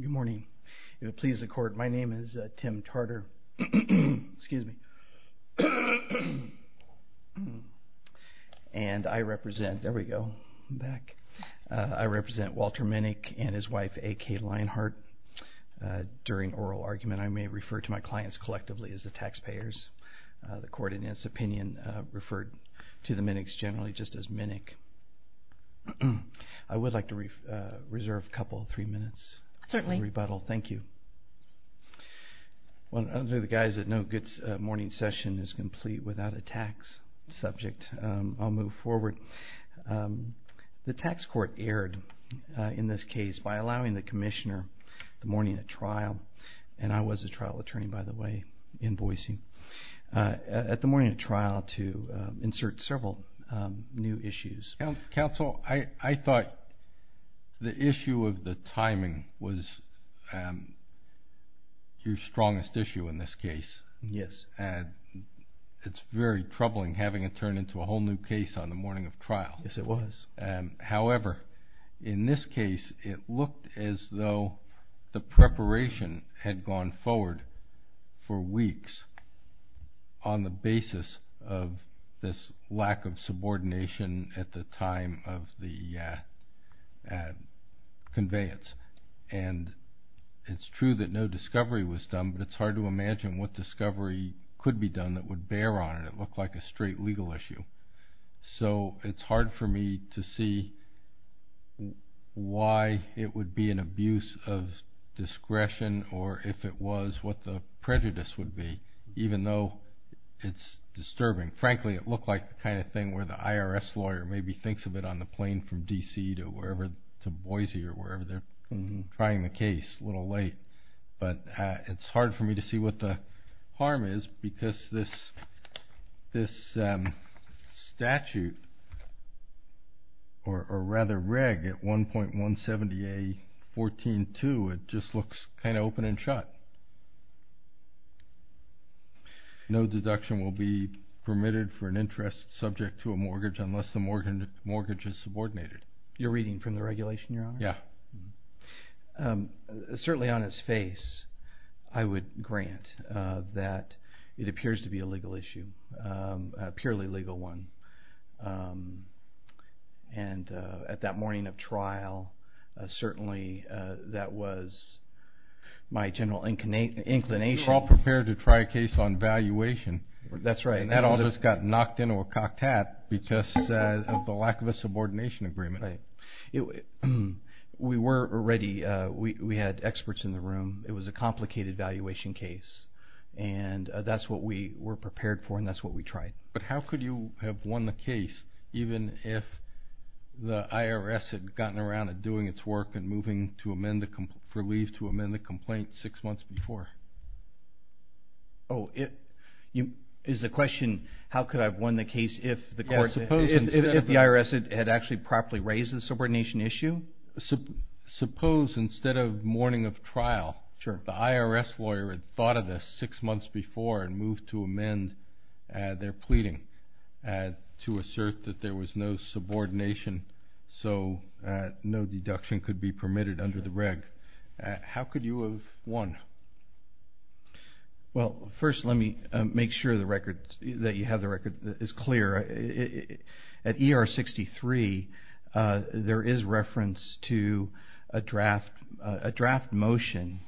Good morning. It would please the court, my name is Tim Tarter, and I represent Walter Minnick and his wife A.K. Lionheart. During oral argument, I may refer to my clients collectively as the taxpayers. The court, in its opinion, referred to the Minnicks generally just as taxpayers. I would like to reserve a couple of minutes for rebuttal. Thank you. The tax court erred in this case by allowing the commissioner, the morning of trial, and I was a trial attorney I thought the issue of the timing was your strongest issue in this case. It's very troubling having it turn into a whole new case on the morning of trial. However, in this case, it looked as though the preparation had gone forward for weeks on the basis of this lack of subordination at the time of the conveyance. It's true that no discovery was done, but it's hard to imagine what discovery could be done that would bear on it. It looked like a straight legal issue. It's hard for me to see why it would be an abuse of discretion or if it was what the prejudice would be, even though it's disturbing. Frankly, it looked like the kind of thing where the IRS lawyer maybe thinks of it on the plane from D.C. to Boise or wherever. They're trying the case a little late. It's hard for me to see what the harm is because this statute, or rather reg, at 1.170A.14.2, it just looks kind of open and shut. No deduction will be permitted for an interest subject to a mortgage unless the mortgage is subordinated. You're reading from the regulation, Your Honor? Yeah. Certainly on its face, I would grant that it appears to be a legal issue, a purely legal one. At that morning of trial, certainly that was my general inclination. You were all prepared to try a case on valuation. That's right. That all just got knocked into a cock-tat because of the lack of a subordination agreement. We had experts in the room. It was a complicated valuation case. That's what we were prepared for and that's what we tried. How could you have won the case even if the IRS had gotten around to doing its work and moving for leave to amend the complaint six months before? Oh, is the question, how could I have won the case if the IRS had actually properly raised the subordination issue? Suppose instead of morning of trial, if the IRS lawyer had thought of this six months before and moved to amend their pleading to assert that there was no subordination, so no deduction could be permitted under the reg, how could you have won? Well, first let me make sure that you have the record that is clear. At ER 63, there is reference to a draft motion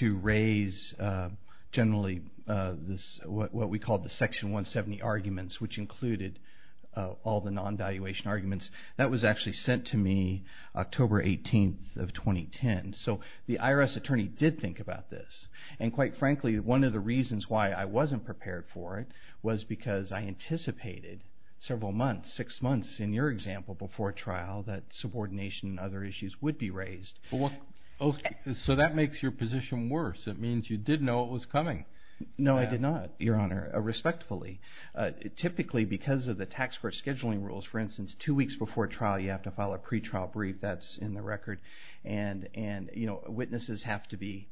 to raise generally what we call the section 170 arguments which included all the non-valuation arguments. That was actually sent to me October 18th of 2010. So the IRS attorney did think about this and quite frankly, one of the reasons why I wasn't prepared for it was because I anticipated several months, six months in your example before trial that subordination and other issues would be raised. So that makes your position worse. It means you did know it was coming. No, I did not, Your Honor, respectfully. Typically because of the tax court scheduling rules, for instance, two weeks before trial you have to file a pretrial brief, that's in the record, and witnesses have to be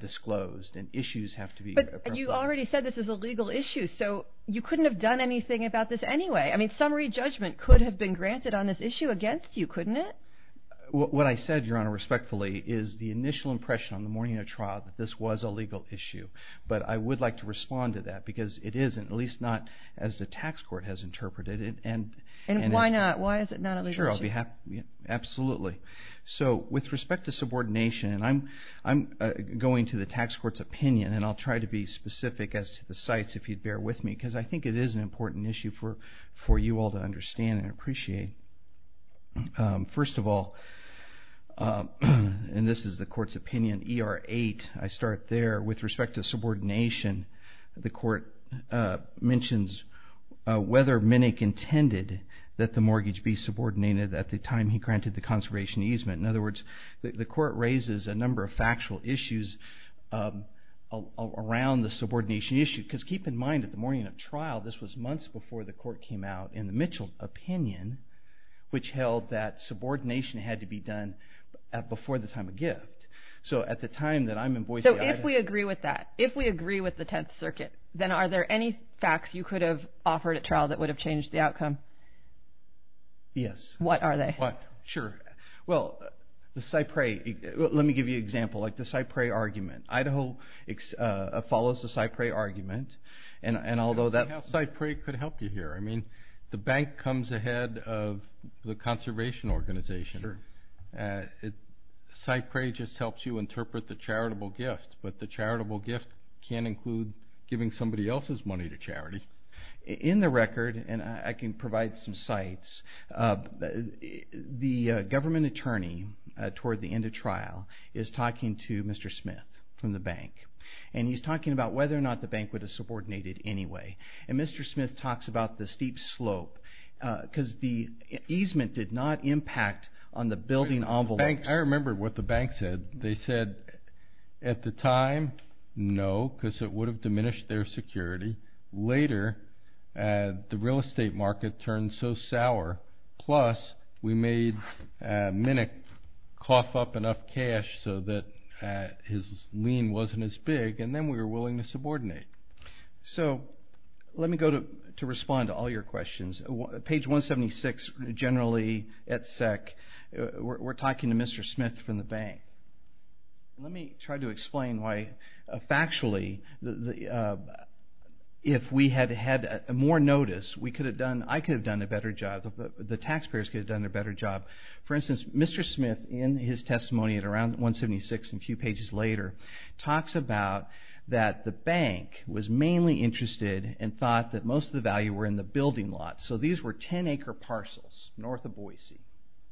disclosed and issues have to be approved. But you already said this is a legal issue, so you couldn't have done anything about this anyway. Summary judgment could have been granted on this issue against you, couldn't it? What I said, Your Honor, respectfully is the initial impression on the morning of trial that this was a legal issue. But I would like to respond to that because it isn't, at least not as the tax court has interpreted it. And why not? Why is it not a legal issue? Sure, absolutely. So with respect to subordination, and I'm going to the tax court's opinion and I'll try to be specific as to the sites if you'd bear with me because I think it is an important issue for you all to understand and appreciate. First of all, and this is the court's opinion, ER 8, I start there. With respect to subordination, the court mentions whether Minnick intended that the mortgage be subordinated at the time he granted the conservation easement. In other words, the court raises a number of factual issues around the subordination issue. Because keep in mind that the morning of trial, this was months before the court came out in the Mitchell opinion, which held that subordination had to be done at before the time of gift. So at the time that I'm in Boise, Idaho... So if we agree with that, if we agree with the 10th Circuit, then are there any facts you could have offered at trial that would have changed the outcome? Yes. What are they? What? Sure. Well, the Cyprey, let me give you an example. Like the Cyprey argument. Idaho follows the Cyprey argument and although that... I don't see how Cyprey could help you here. I mean, the bank comes ahead of the conservation organization. Cyprey just helps you interpret the charitable gift, but the charitable gift can include giving somebody else's money to charity. In the record, and I can provide some sites, the government attorney toward the end of trial is talking to Mr. Smith from the bank. And he's talking about whether or not the bank would have subordinated anyway. And Mr. Smith talks about the steep slope because the easement did not impact on the building envelopes. I remember what the bank said. They said at the time, no, because it would have diminished their security. Later, the real estate market turned so sour. Plus, we made Minick cough up enough cash so that his lien wasn't as big and then we were willing to subordinate. So let me go to respond to all your questions. Page 176, generally at SEC, we're talking to Mr. Smith from the bank. Let me try to explain why factually if we had had more notice, we could have done... I could have done a better job. The taxpayers could have done a better job. For instance, Mr. Smith, in his testimony at around 176 and a few pages later, talks about that the bank was mainly interested and thought that most of the value were in the building lot. So these were 10-acre parcels north of Boise.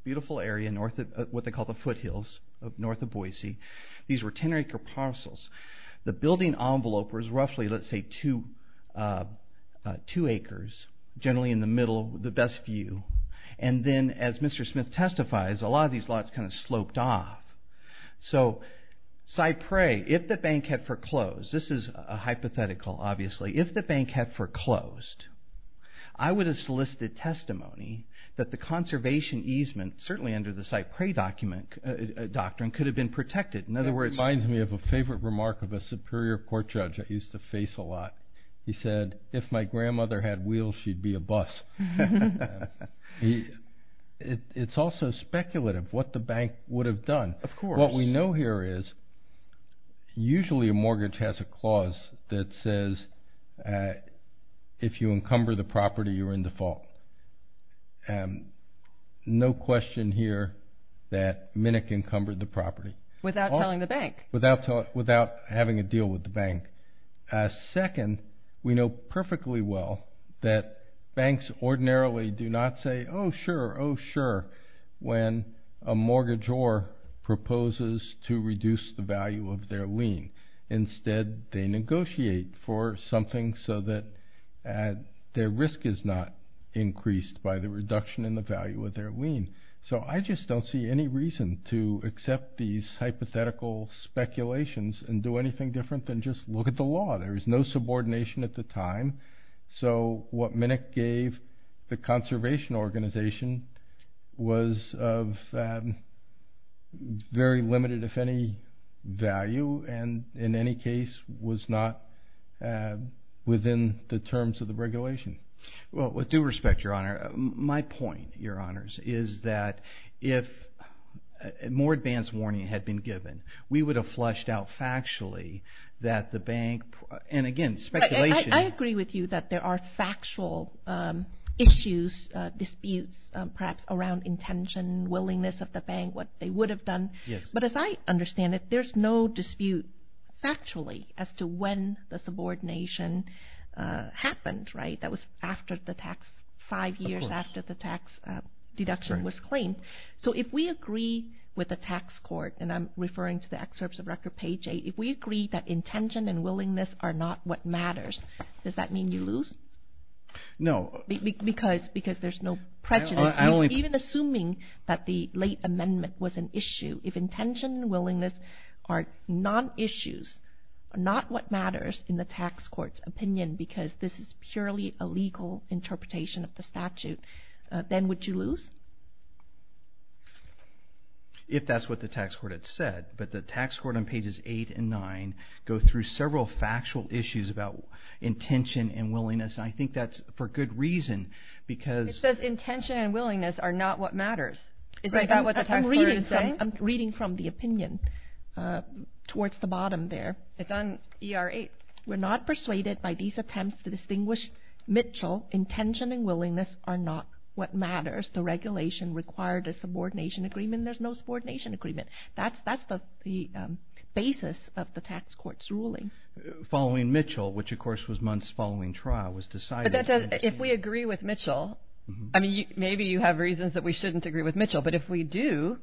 Beautiful area north of what they call the foothills north of Boise. These were 10-acre parcels. The building envelope was roughly, let's say, two acres, generally in the middle, the best view. And then as the bank had foreclosed, this is a hypothetical, obviously. If the bank had foreclosed, I would have solicited testimony that the conservation easement, certainly under the Cypress Doctrine, could have been protected. In other words... It reminds me of a favorite remark of a superior court judge I used to face a lot. He said, if my grandmother had wheels, she'd be a bus. It's also speculative what the bank would have done. Of course. What we know here is, usually a mortgage has a clause that says, if you encumber the property, you're in default. No question here that Minick encumbered the property. Without telling the bank. Without having a deal with the bank. Second, we know perfectly well that banks ordinarily do not say, oh sure, oh sure, when a mortgagor proposes to reduce the value of their lien. Instead they negotiate for something so that their risk is not increased by the reduction in the value of their lien. So I just don't see any reason to accept these hypothetical speculations and do anything different than just look at the law. There is no subordination at the time. So what Minick gave the conservation organization was of very limited, if any, value and in any case was not within the terms of the regulation. Well, with due respect, your honor, my point, your honors, is that if more advanced warning had been given, we would have flushed out factually that the bank, and again, speculation. I agree with you that there are factual issues, disputes, perhaps around intention, willingness of the bank, what they would have done. But as I understand it, there's no dispute factually as to when the subordination happened, right? That was after the tax, five years after the tax deduction was claimed. So if we agree with the tax court, and I'm referring to the excerpts of record page eight, if we agree that intention and willingness are not what matters, does that mean you lose? No. Because there's no prejudice. Even assuming that the late amendment was an issue, if intention and willingness are non-issues, not what matters in the tax court's opinion because this is then would you lose? If that's what the tax court had said, but the tax court on pages eight and nine go through several factual issues about intention and willingness, and I think that's for good reason because It says intention and willingness are not what matters. Is that what the tax court is saying? I'm reading from the opinion towards the bottom there. It's on ER 8. We're not persuaded by these attempts to do what matters. The regulation required a subordination agreement. There's no subordination agreement. That's the basis of the tax court's ruling. Following Mitchell, which of course was months following trial, was decided. If we agree with Mitchell, maybe you have reasons that we shouldn't agree with Mitchell, but if we do,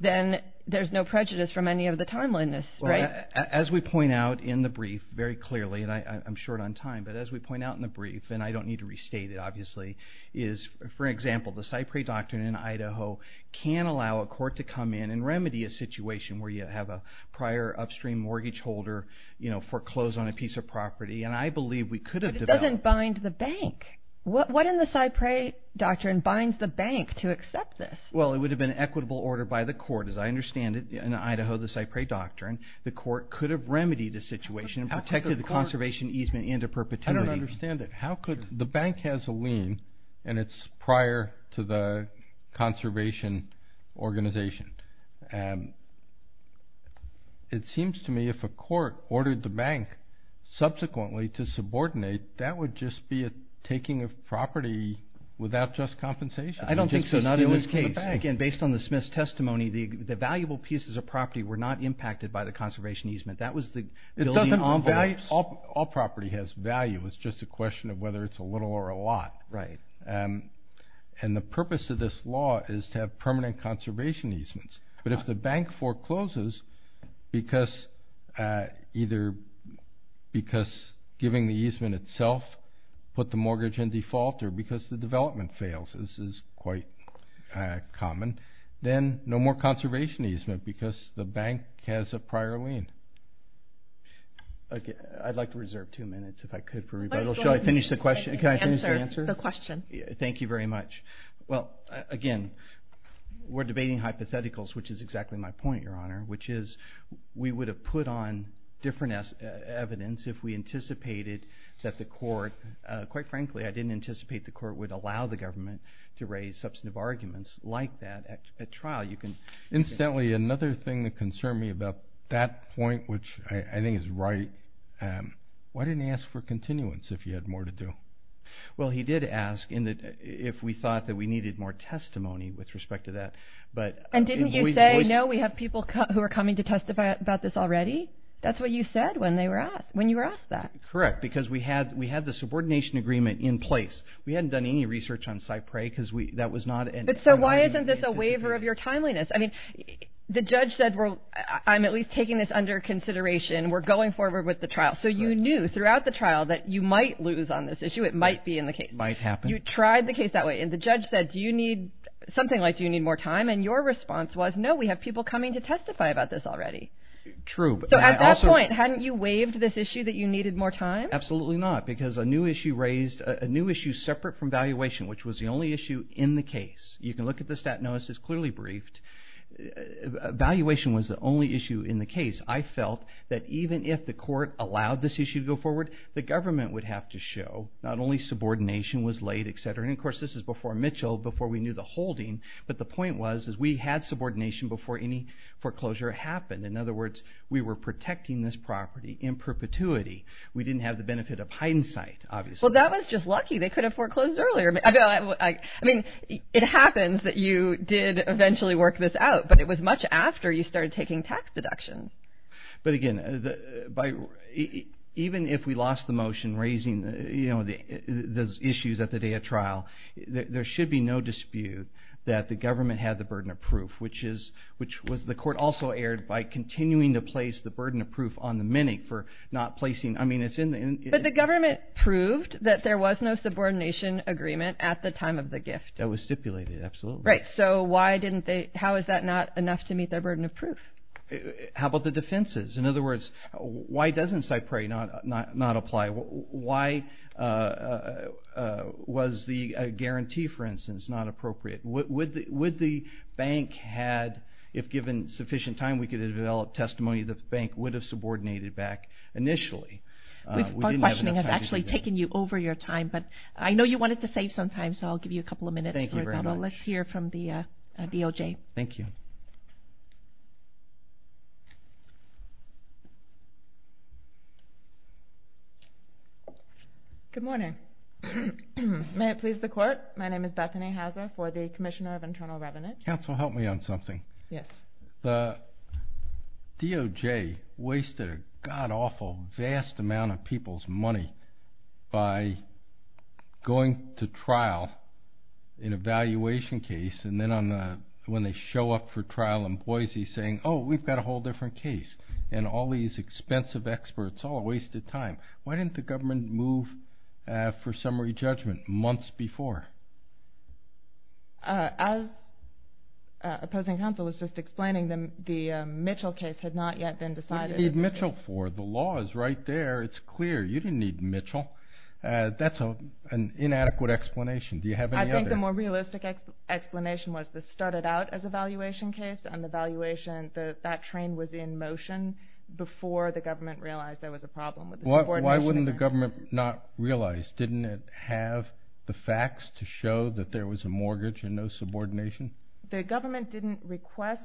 then there's no prejudice from any of the timeliness, right? As we point out in the brief very clearly, and I'm short on time, but as we point out in the brief, and I don't need to restate it obviously, is for example, the Cyprey Doctrine in Idaho can allow a court to come in and remedy a situation where you have a prior upstream mortgage holder, you know, foreclose on a piece of property, and I believe we could have- But it doesn't bind the bank. What in the Cyprey Doctrine binds the bank to accept this? Well, it would have been equitable order by the court. As I understand it, in Idaho, the Cyprey Doctrine, the court could have remedied the situation and protected the conservation easement into perpetuity. I don't understand it. The bank has a lien, and it's prior to the conservation organization. It seems to me if a court ordered the bank subsequently to subordinate, that would just be a taking of property without just compensation. I don't think so. Not in this case. Again, based on the Smith's testimony, the valuable pieces of property were not impacted by the conservation easement. That was the building envelopes. All property has value. It's just a question of whether it's a little or a lot. Right. And the purpose of this law is to have permanent conservation easements. But if the bank forecloses because either because giving the easement itself put the mortgage in default or because the development fails, this is quite common, then no more conservation easement because the bank has a prior lien. I'd like to reserve two minutes, if I could, for rebuttal. Go ahead. Should I finish the question? Answer the question. Thank you very much. Well, again, we're debating hypotheticals, which is exactly my point, Your Honor, which is we would have put on different evidence if we anticipated that the court, quite frankly, I didn't anticipate the court would allow the government to raise substantive arguments like that at trial. Incidentally, another thing that concerned me about that point, which I think is right, why didn't he ask for continuance if he had more to do? Well, he did ask if we thought that we needed more testimony with respect to that. And didn't you say, no, we have people who are coming to testify about this already? That's what you said when you were asked that. Correct, because we had the subordination agreement in place. We hadn't done any research on CyPray because that was not an... But so why isn't this a waiver of your timeliness? I mean, the judge said, well, I'm at least taking this under consideration. We're going forward with the trial. So you knew throughout the trial that you might lose on this issue. It might be in the case. Might happen. You tried the case that way. And the judge said, do you need something like, do you need more time? And your response was, no, we have people coming to testify about this already. True. So at that point, hadn't you waived this issue that you needed more time? Absolutely not. Because a new issue raised a new issue separate from valuation, which was the only issue in the case. You can look at the stat notice. It's clearly briefed. Valuation was the only issue in the case. I felt that even if the court allowed this issue to go forward, the government would have to show not only subordination was laid, et cetera. And of course, this is before Mitchell, before we knew the holding. But the point was, is we had subordination before any foreclosure happened. In other words, we were protecting this property in perpetuity. We didn't have the benefit of hindsight, obviously. Well, that was just lucky. They could have foreclosed earlier. I mean, it happens that you did eventually work this out, but it was much after you started taking tax deductions. But again, even if we lost the motion raising those issues at the day of trial, there should be no dispute that the government had the burden of proof, which was the court also aired by continuing to place the burden of proof on the mini for not placing. But the government proved that there was no subordination agreement at the time of the gift. That was stipulated, absolutely. Right. So how is that not enough to meet their burden of proof? How about the defenses? In other words, why doesn't Cypre not apply? Why was the guarantee, for instance, not appropriate? Would the bank had, if given sufficient time, we could have developed testimony that the Our questioning has actually taken you over your time, but I know you wanted to save some time, so I'll give you a couple of minutes. Thank you very much. Let's hear from the DOJ. Thank you. Good morning. May it please the court. My name is Bethany Hauser for the Commissioner of Internal Revenue. Counsel, help me on something. Yes. The DOJ wasted a god-awful vast amount of people's money by going to trial in a valuation case and then when they show up for trial in Boise saying, oh, we've got a whole different case, and all these expensive experts all wasted time. Why didn't the government move for summary judgment months before? As opposing counsel was just explaining, the Mitchell case had not yet been decided. What do you need Mitchell for? The law is right there. It's clear. You didn't need Mitchell. That's an inadequate explanation. Do you have any other? I think the more realistic explanation was this started out as a valuation case, and the valuation, that train was in motion before the government realized there was a problem. Why wouldn't the government not realize? Didn't it have the facts to show that there was a mortgage and no subordination? The government didn't request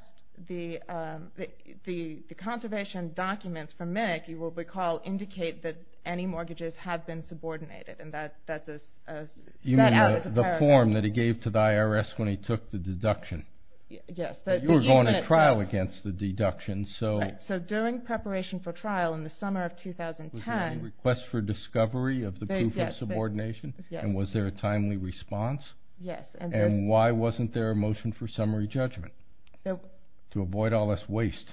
the conservation documents from MNIC, you will recall, indicate that any mortgages had been subordinated. And that was a paradox. You mean the form that he gave to the IRS when he took the deduction? Yes. You were going to trial against the deduction. So during preparation for trial in the summer of 2010. A request for discovery of the proof of subordination? Yes. And was there a timely response? Yes. And why wasn't there a motion for summary judgment? To avoid all this waste.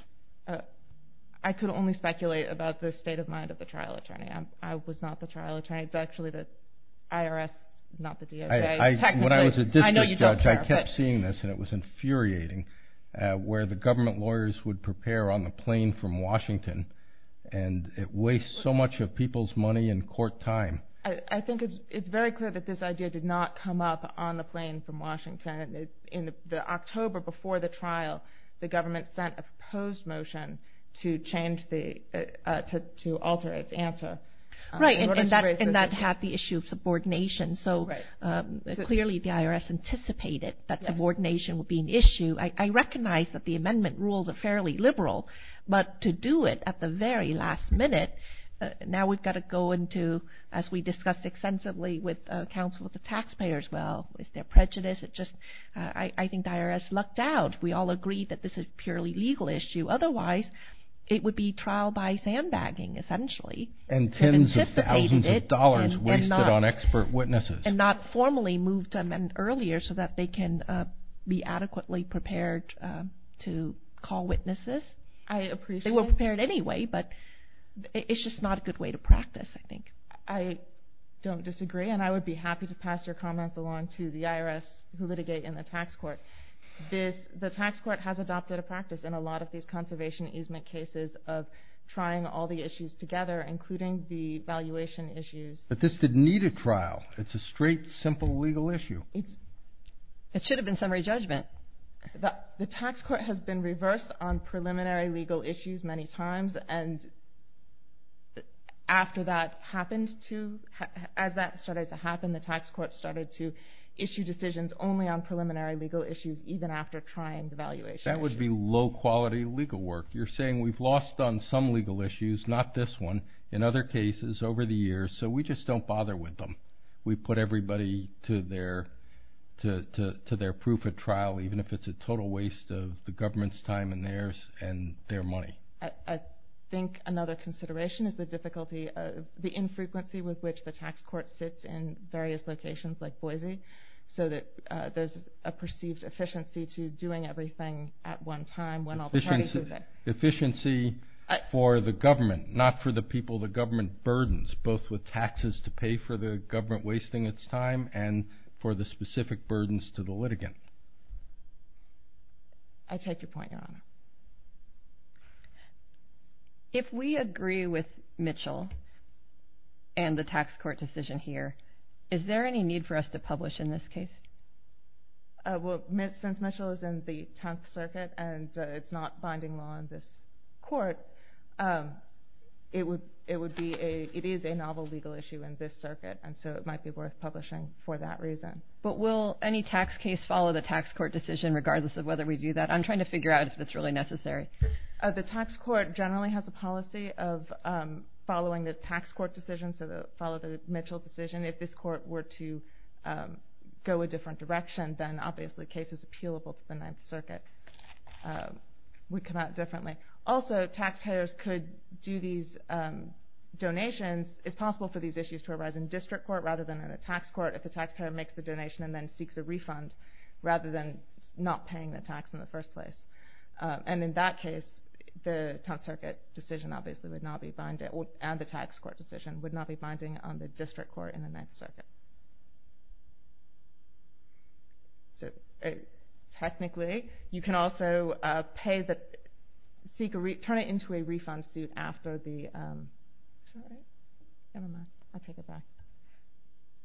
I could only speculate about the state of mind of the trial attorney. I was not the trial attorney. It's actually the IRS, not the DOJ. When I was a district judge, I kept seeing this, and it was infuriating, where the government lawyers would prepare on the plane from Washington, and it wastes so much of people's money and court time. I think it's very clear that this idea did not come up on the plane from Washington. In October before the trial, the government sent a proposed motion to alter its answer. Right, and that had the issue of subordination. So clearly the IRS anticipated that subordination would be an issue. I recognize that the amendment rules are fairly liberal, but to do it at the very last minute, now we've got to go into, as we discussed extensively with counsel with the taxpayers, well, is there prejudice? I think the IRS lucked out. We all agreed that this is a purely legal issue. Otherwise, it would be trial by sandbagging, essentially. And tens of thousands of dollars wasted on expert witnesses. And not formally moved to amend earlier so that they can be adequately prepared to call witnesses. They were prepared anyway, but it's just not a good way to practice, I think. I don't disagree, and I would be happy to pass your comments along to the IRS who litigate in the tax court. The tax court has adopted a practice in a lot of these conservation easement cases of trying all the issues together, including the valuation issues. But this didn't need a trial. It's a straight, simple legal issue. It should have been summary judgment. The tax court has been reversed on preliminary legal issues many times, and after that started to happen, the tax court started to issue decisions only on preliminary legal issues even after trying the valuation issues. That would be low-quality legal work. You're saying we've lost on some legal issues, not this one, in other cases over the years, so we just don't bother with them. We put everybody to their proof-of-trial, even if it's a total waste of the government's time and theirs and their money. I think another consideration is the difficulty of the infrequency with which the tax court sits in various locations like Boise, so that there's a perceived efficiency to doing everything at one time when all the parties are there. Efficiency for the government, not for the people the government burdens, both with taxes to pay for the government wasting its time and for the specific burdens to the litigant. I take your point, Your Honor. If we agree with Mitchell and the tax court decision here, is there any need for us to publish in this case? Well, since Mitchell is in the 10th Circuit and it's not binding law in this court, it is a novel legal issue in this circuit, and so it might be worth publishing for that reason. But will any tax case follow the tax court decision, regardless of whether we do that? I'm trying to figure out if that's really necessary. The tax court generally has a policy of following the tax court decision, so follow the Mitchell decision. If this court were to go a different direction, then obviously cases appealable to the 9th Circuit would come out differently. Also, taxpayers could do these donations. It's possible for these issues to arise in district court rather than in a tax court if the taxpayer makes the donation and then seeks a refund rather than not paying the tax in the first place. And in that case, the 10th Circuit decision obviously would not be binding, and the tax court decision would not be binding on the district court in the 9th Circuit. So technically, you can also turn it into a refund suit after the... I'll take it back.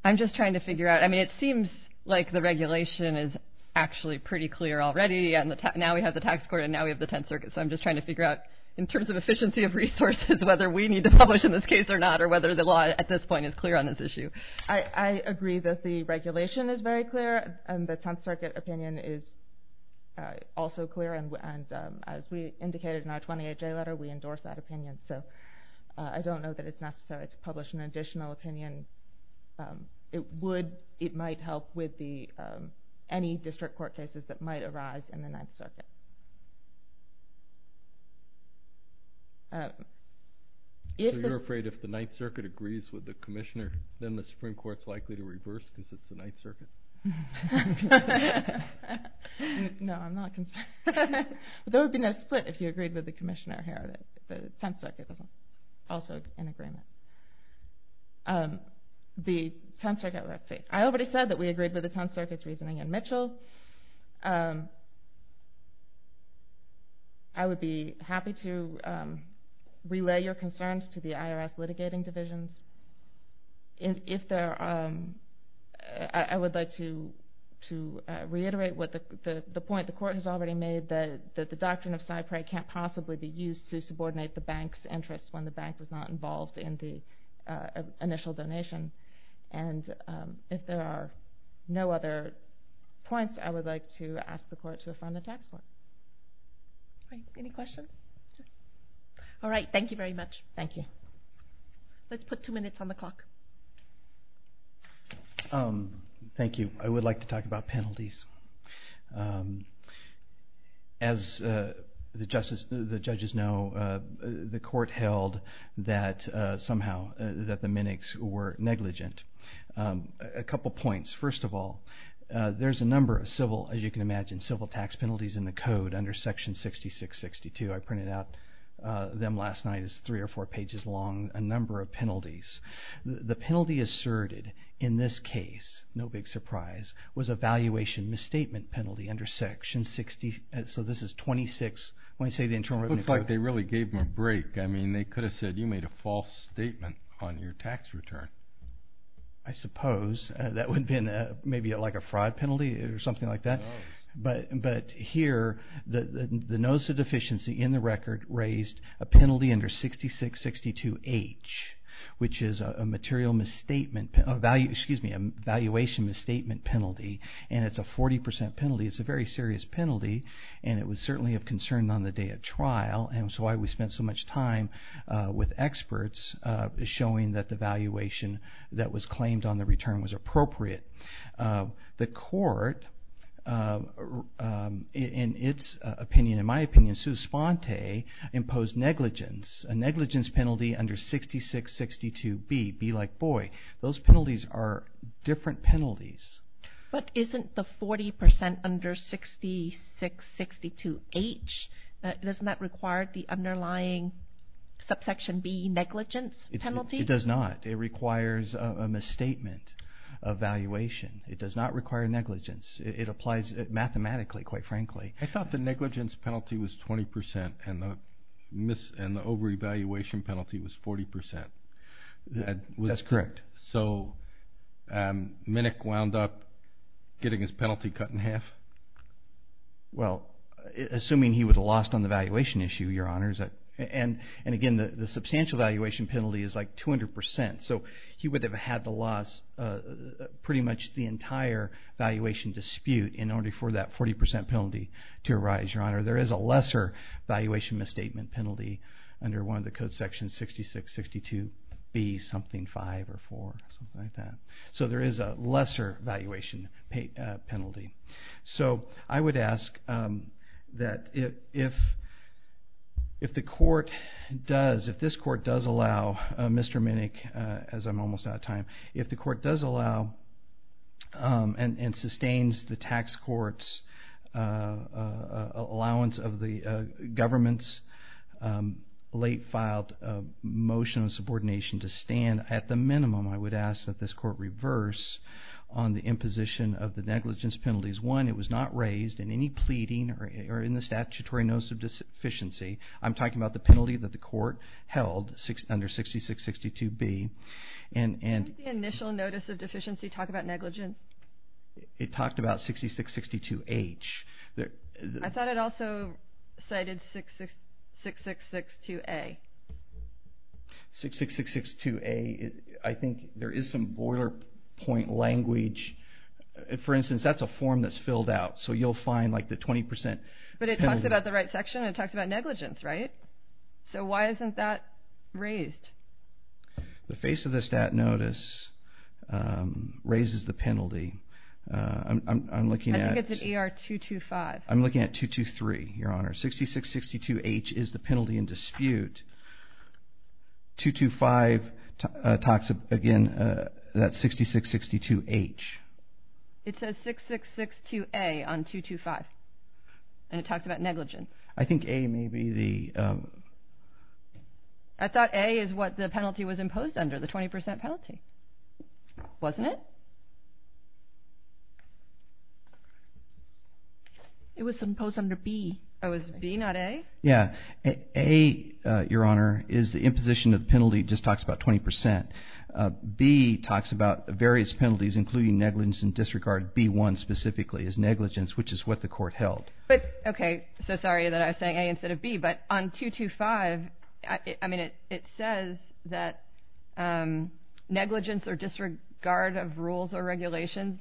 I'm just trying to figure out. I mean, it seems like the regulation is actually pretty clear already, and now we have the tax court and now we have the 10th Circuit, so I'm just trying to figure out in terms of efficiency of resources whether we need to publish in this case or not or whether the law at this point is clear on this issue. I agree that the regulation is very clear, and the 10th Circuit opinion is also clear, and as we indicated in our 28-J letter, we endorse that opinion. So I don't know that it's necessary to publish an additional opinion. It might help with any district court cases that might arise in the 9th Circuit. So you're afraid if the 9th Circuit agrees with the commissioner, then the Supreme Court is likely to reverse because it's the 9th Circuit? No, I'm not concerned. There would be no split if you agreed with the commissioner here. The 10th Circuit is also in agreement. The 10th Circuit, let's see. I already said that we agreed with the 10th Circuit's reasoning in Mitchell. I would be happy to relay your concerns to the IRS litigating divisions. I would like to reiterate the point the court has already made, that the doctrine of cyprate can't possibly be used to subordinate the bank's interests when the bank was not involved in the initial donation, and if there are no other points, I would like to ask the court to affirm the tax plan. Any questions? All right, thank you very much. Thank you. Let's put two minutes on the clock. Thank you. I would like to talk about penalties. As the judges know, the court held that somehow, that the minigs were negligent. A couple points. First of all, there's a number of civil, as you can imagine, civil tax penalties in the code under section 6662. I printed out them last night. It's three or four pages long, a number of penalties. The penalty asserted in this case, no big surprise, was a valuation misstatement penalty under section 6662. So this is 26. It looks like they really gave them a break. I mean, they could have said you made a false statement on your tax return. I suppose. That would have been maybe like a fraud penalty or something like that. But here, the notice of deficiency in the record raised a penalty under 6662H, which is a valuation misstatement penalty, and it's a 40% penalty. It's a very serious penalty, and it was certainly of concern on the day of trial. And it's why we spent so much time with experts showing that the valuation that was claimed on the return was appropriate. The court, in its opinion, in my opinion, Suspente imposed negligence, a negligence penalty under 6662B. Be like, boy, those penalties are different penalties. But isn't the 40% under 6662H, doesn't that require the underlying subsection B negligence penalty? It does not. It requires a misstatement of valuation. It does not require negligence. It applies mathematically, quite frankly. I thought the negligence penalty was 20% and the over-evaluation penalty was 40%. That's correct. So Minnick wound up getting his penalty cut in half? Well, assuming he would have lost on the valuation issue, Your Honor. And, again, the substantial valuation penalty is like 200%. So he would have had to loss pretty much the entire valuation dispute in order for that 40% penalty to arise, Your Honor. There is a lesser valuation misstatement penalty under one of the code sections 6662B something 5 or 4, something like that. So there is a lesser valuation penalty. So I would ask that if the court does, if this court does allow Mr. Minnick, as I'm almost out of time, if the court does allow and sustains the tax court's allowance of the government's late-filed motion of subordination to stand, at the minimum I would ask that this court reverse on the imposition of the negligence penalties. One, it was not raised in any pleading or in the statutory notice of deficiency. I'm talking about the penalty that the court held under 6662B. Didn't the initial notice of deficiency talk about negligence? It talked about 6662H. I thought it also cited 6662A. 6662A, I think there is some boiler point language. For instance, that's a form that's filled out. So you'll find like the 20% penalty. But it talks about the right section. It talks about negligence, right? So why isn't that raised? The face of the stat notice raises the penalty. I'm looking at... I think it's at ER 225. I'm looking at 223, Your Honor. 6662H is the penalty in dispute. 225 talks, again, that's 6662H. It says 6662A on 225. And it talks about negligence. I think A may be the... I thought A is what the penalty was imposed under, the 20% penalty. Wasn't it? It was imposed under B. Oh, it was B, not A? Yeah. A, Your Honor, is the imposition of the penalty. It just talks about 20%. B talks about various penalties, including negligence and disregard. B1 specifically is negligence, which is what the court held. But, okay, so sorry that I was saying A instead of B. But on 225, I mean, it says that negligence or disregard of rules or regulations.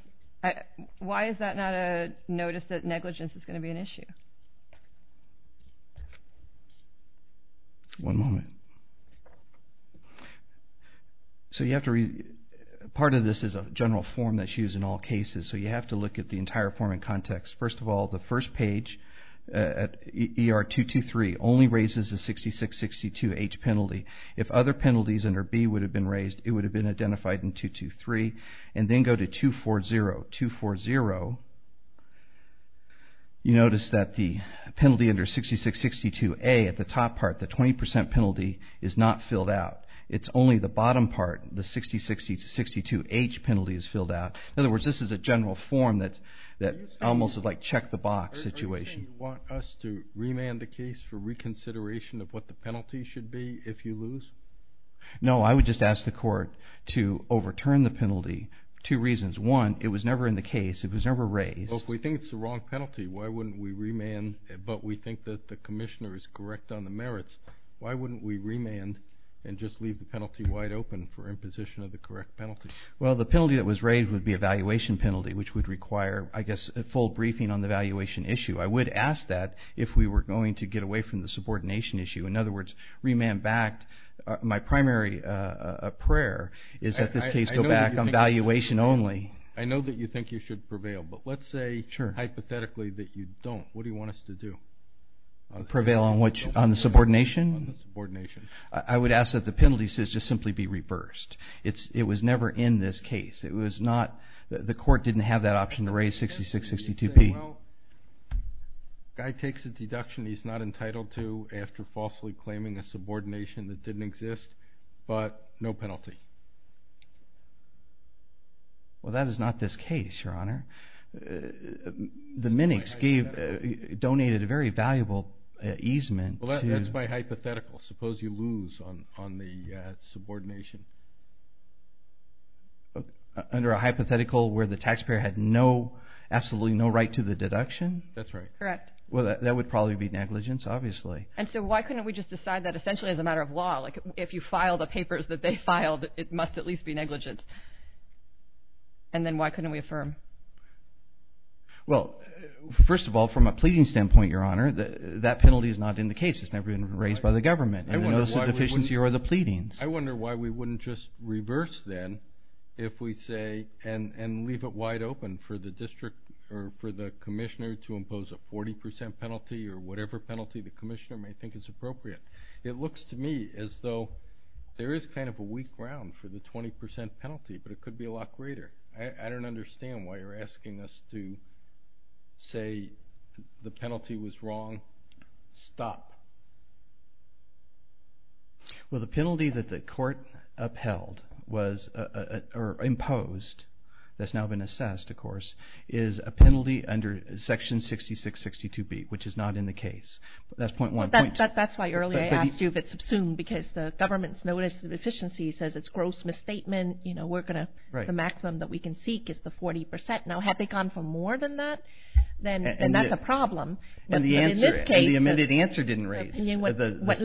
Why is that not a notice that negligence is going to be an issue? One moment. So you have to read... Part of this is a general form that's used in all cases. So you have to look at the entire form in context. First of all, the first page at ER 223 only raises the 6662H penalty. If other penalties under B would have been raised, it would have been identified in 223 and then go to 240. 240, you notice that the penalty under 6662A at the top part, the 20% penalty, is not filled out. It's only the bottom part, the 6662H penalty, is filled out. In other words, this is a general form that almost is like check-the-box situation. Are you saying you want us to remand the case for reconsideration of what the penalty should be if you lose? No, I would just ask the court to overturn the penalty. Two reasons. One, it was never in the case. It was never raised. Well, if we think it's the wrong penalty, why wouldn't we remand, but we think that the commissioner is correct on the merits, why wouldn't we remand and just leave the penalty wide open for imposition of the correct penalty? Well, the penalty that was raised would be a valuation penalty, which would require, I guess, a full briefing on the valuation issue. I would ask that if we were going to get away from the subordination issue. In other words, remand backed. My primary prayer is that this case go back on valuation only. I know that you think you should prevail, but let's say hypothetically that you don't. What do you want us to do? Prevail on the subordination? On the subordination. I would ask that the penalty should just simply be reversed. It was never in this case. The court didn't have that option to raise 6662P. Well, the guy takes a deduction he's not entitled to after falsely claiming a subordination that didn't exist, but no penalty. Well, that is not this case, Your Honor. The minix donated a very valuable easement. Well, that's my hypothetical. Suppose you lose on the subordination. Under a hypothetical where the taxpayer had absolutely no right to the deduction? That's right. Correct. Well, that would probably be negligence, obviously. And so why couldn't we just decide that essentially as a matter of law? If you file the papers that they filed, it must at least be negligence. And then why couldn't we affirm? Well, first of all, from a pleading standpoint, Your Honor, that penalty is not in the case. It's never been raised by the government. It's a deficiency or the pleadings. I wonder why we wouldn't just reverse then if we say and leave it wide open for the district or for the commissioner to impose a 40% penalty or whatever penalty the commissioner may think is appropriate. It looks to me as though there is kind of a weak ground for the 20% penalty, but it could be a lot greater. I don't understand why you're asking us to say the penalty was wrong. Stop. Well, the penalty that the court upheld or imposed that's now been assessed, of course, is a penalty under Section 6662B, which is not in the case. That's point one. That's why earlier I asked you if it's assumed because the government's notice of deficiency says it's gross misstatement. The maximum that we can seek is the 40%. Now, had they gone for more than that, then that's a problem. And the amended answer didn't raise the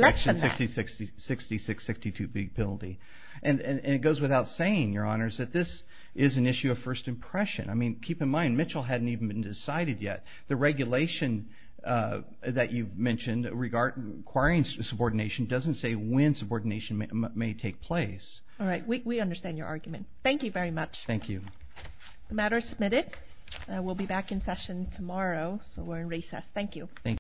Section 6662B penalty. And it goes without saying, Your Honors, that this is an issue of first impression. I mean, keep in mind, Mitchell hadn't even been decided yet. The regulation that you mentioned requiring subordination doesn't say when subordination may take place. All right. We understand your argument. Thank you very much. Thank you. The matter is submitted. We'll be back in session tomorrow. So we're in recess. Thank you.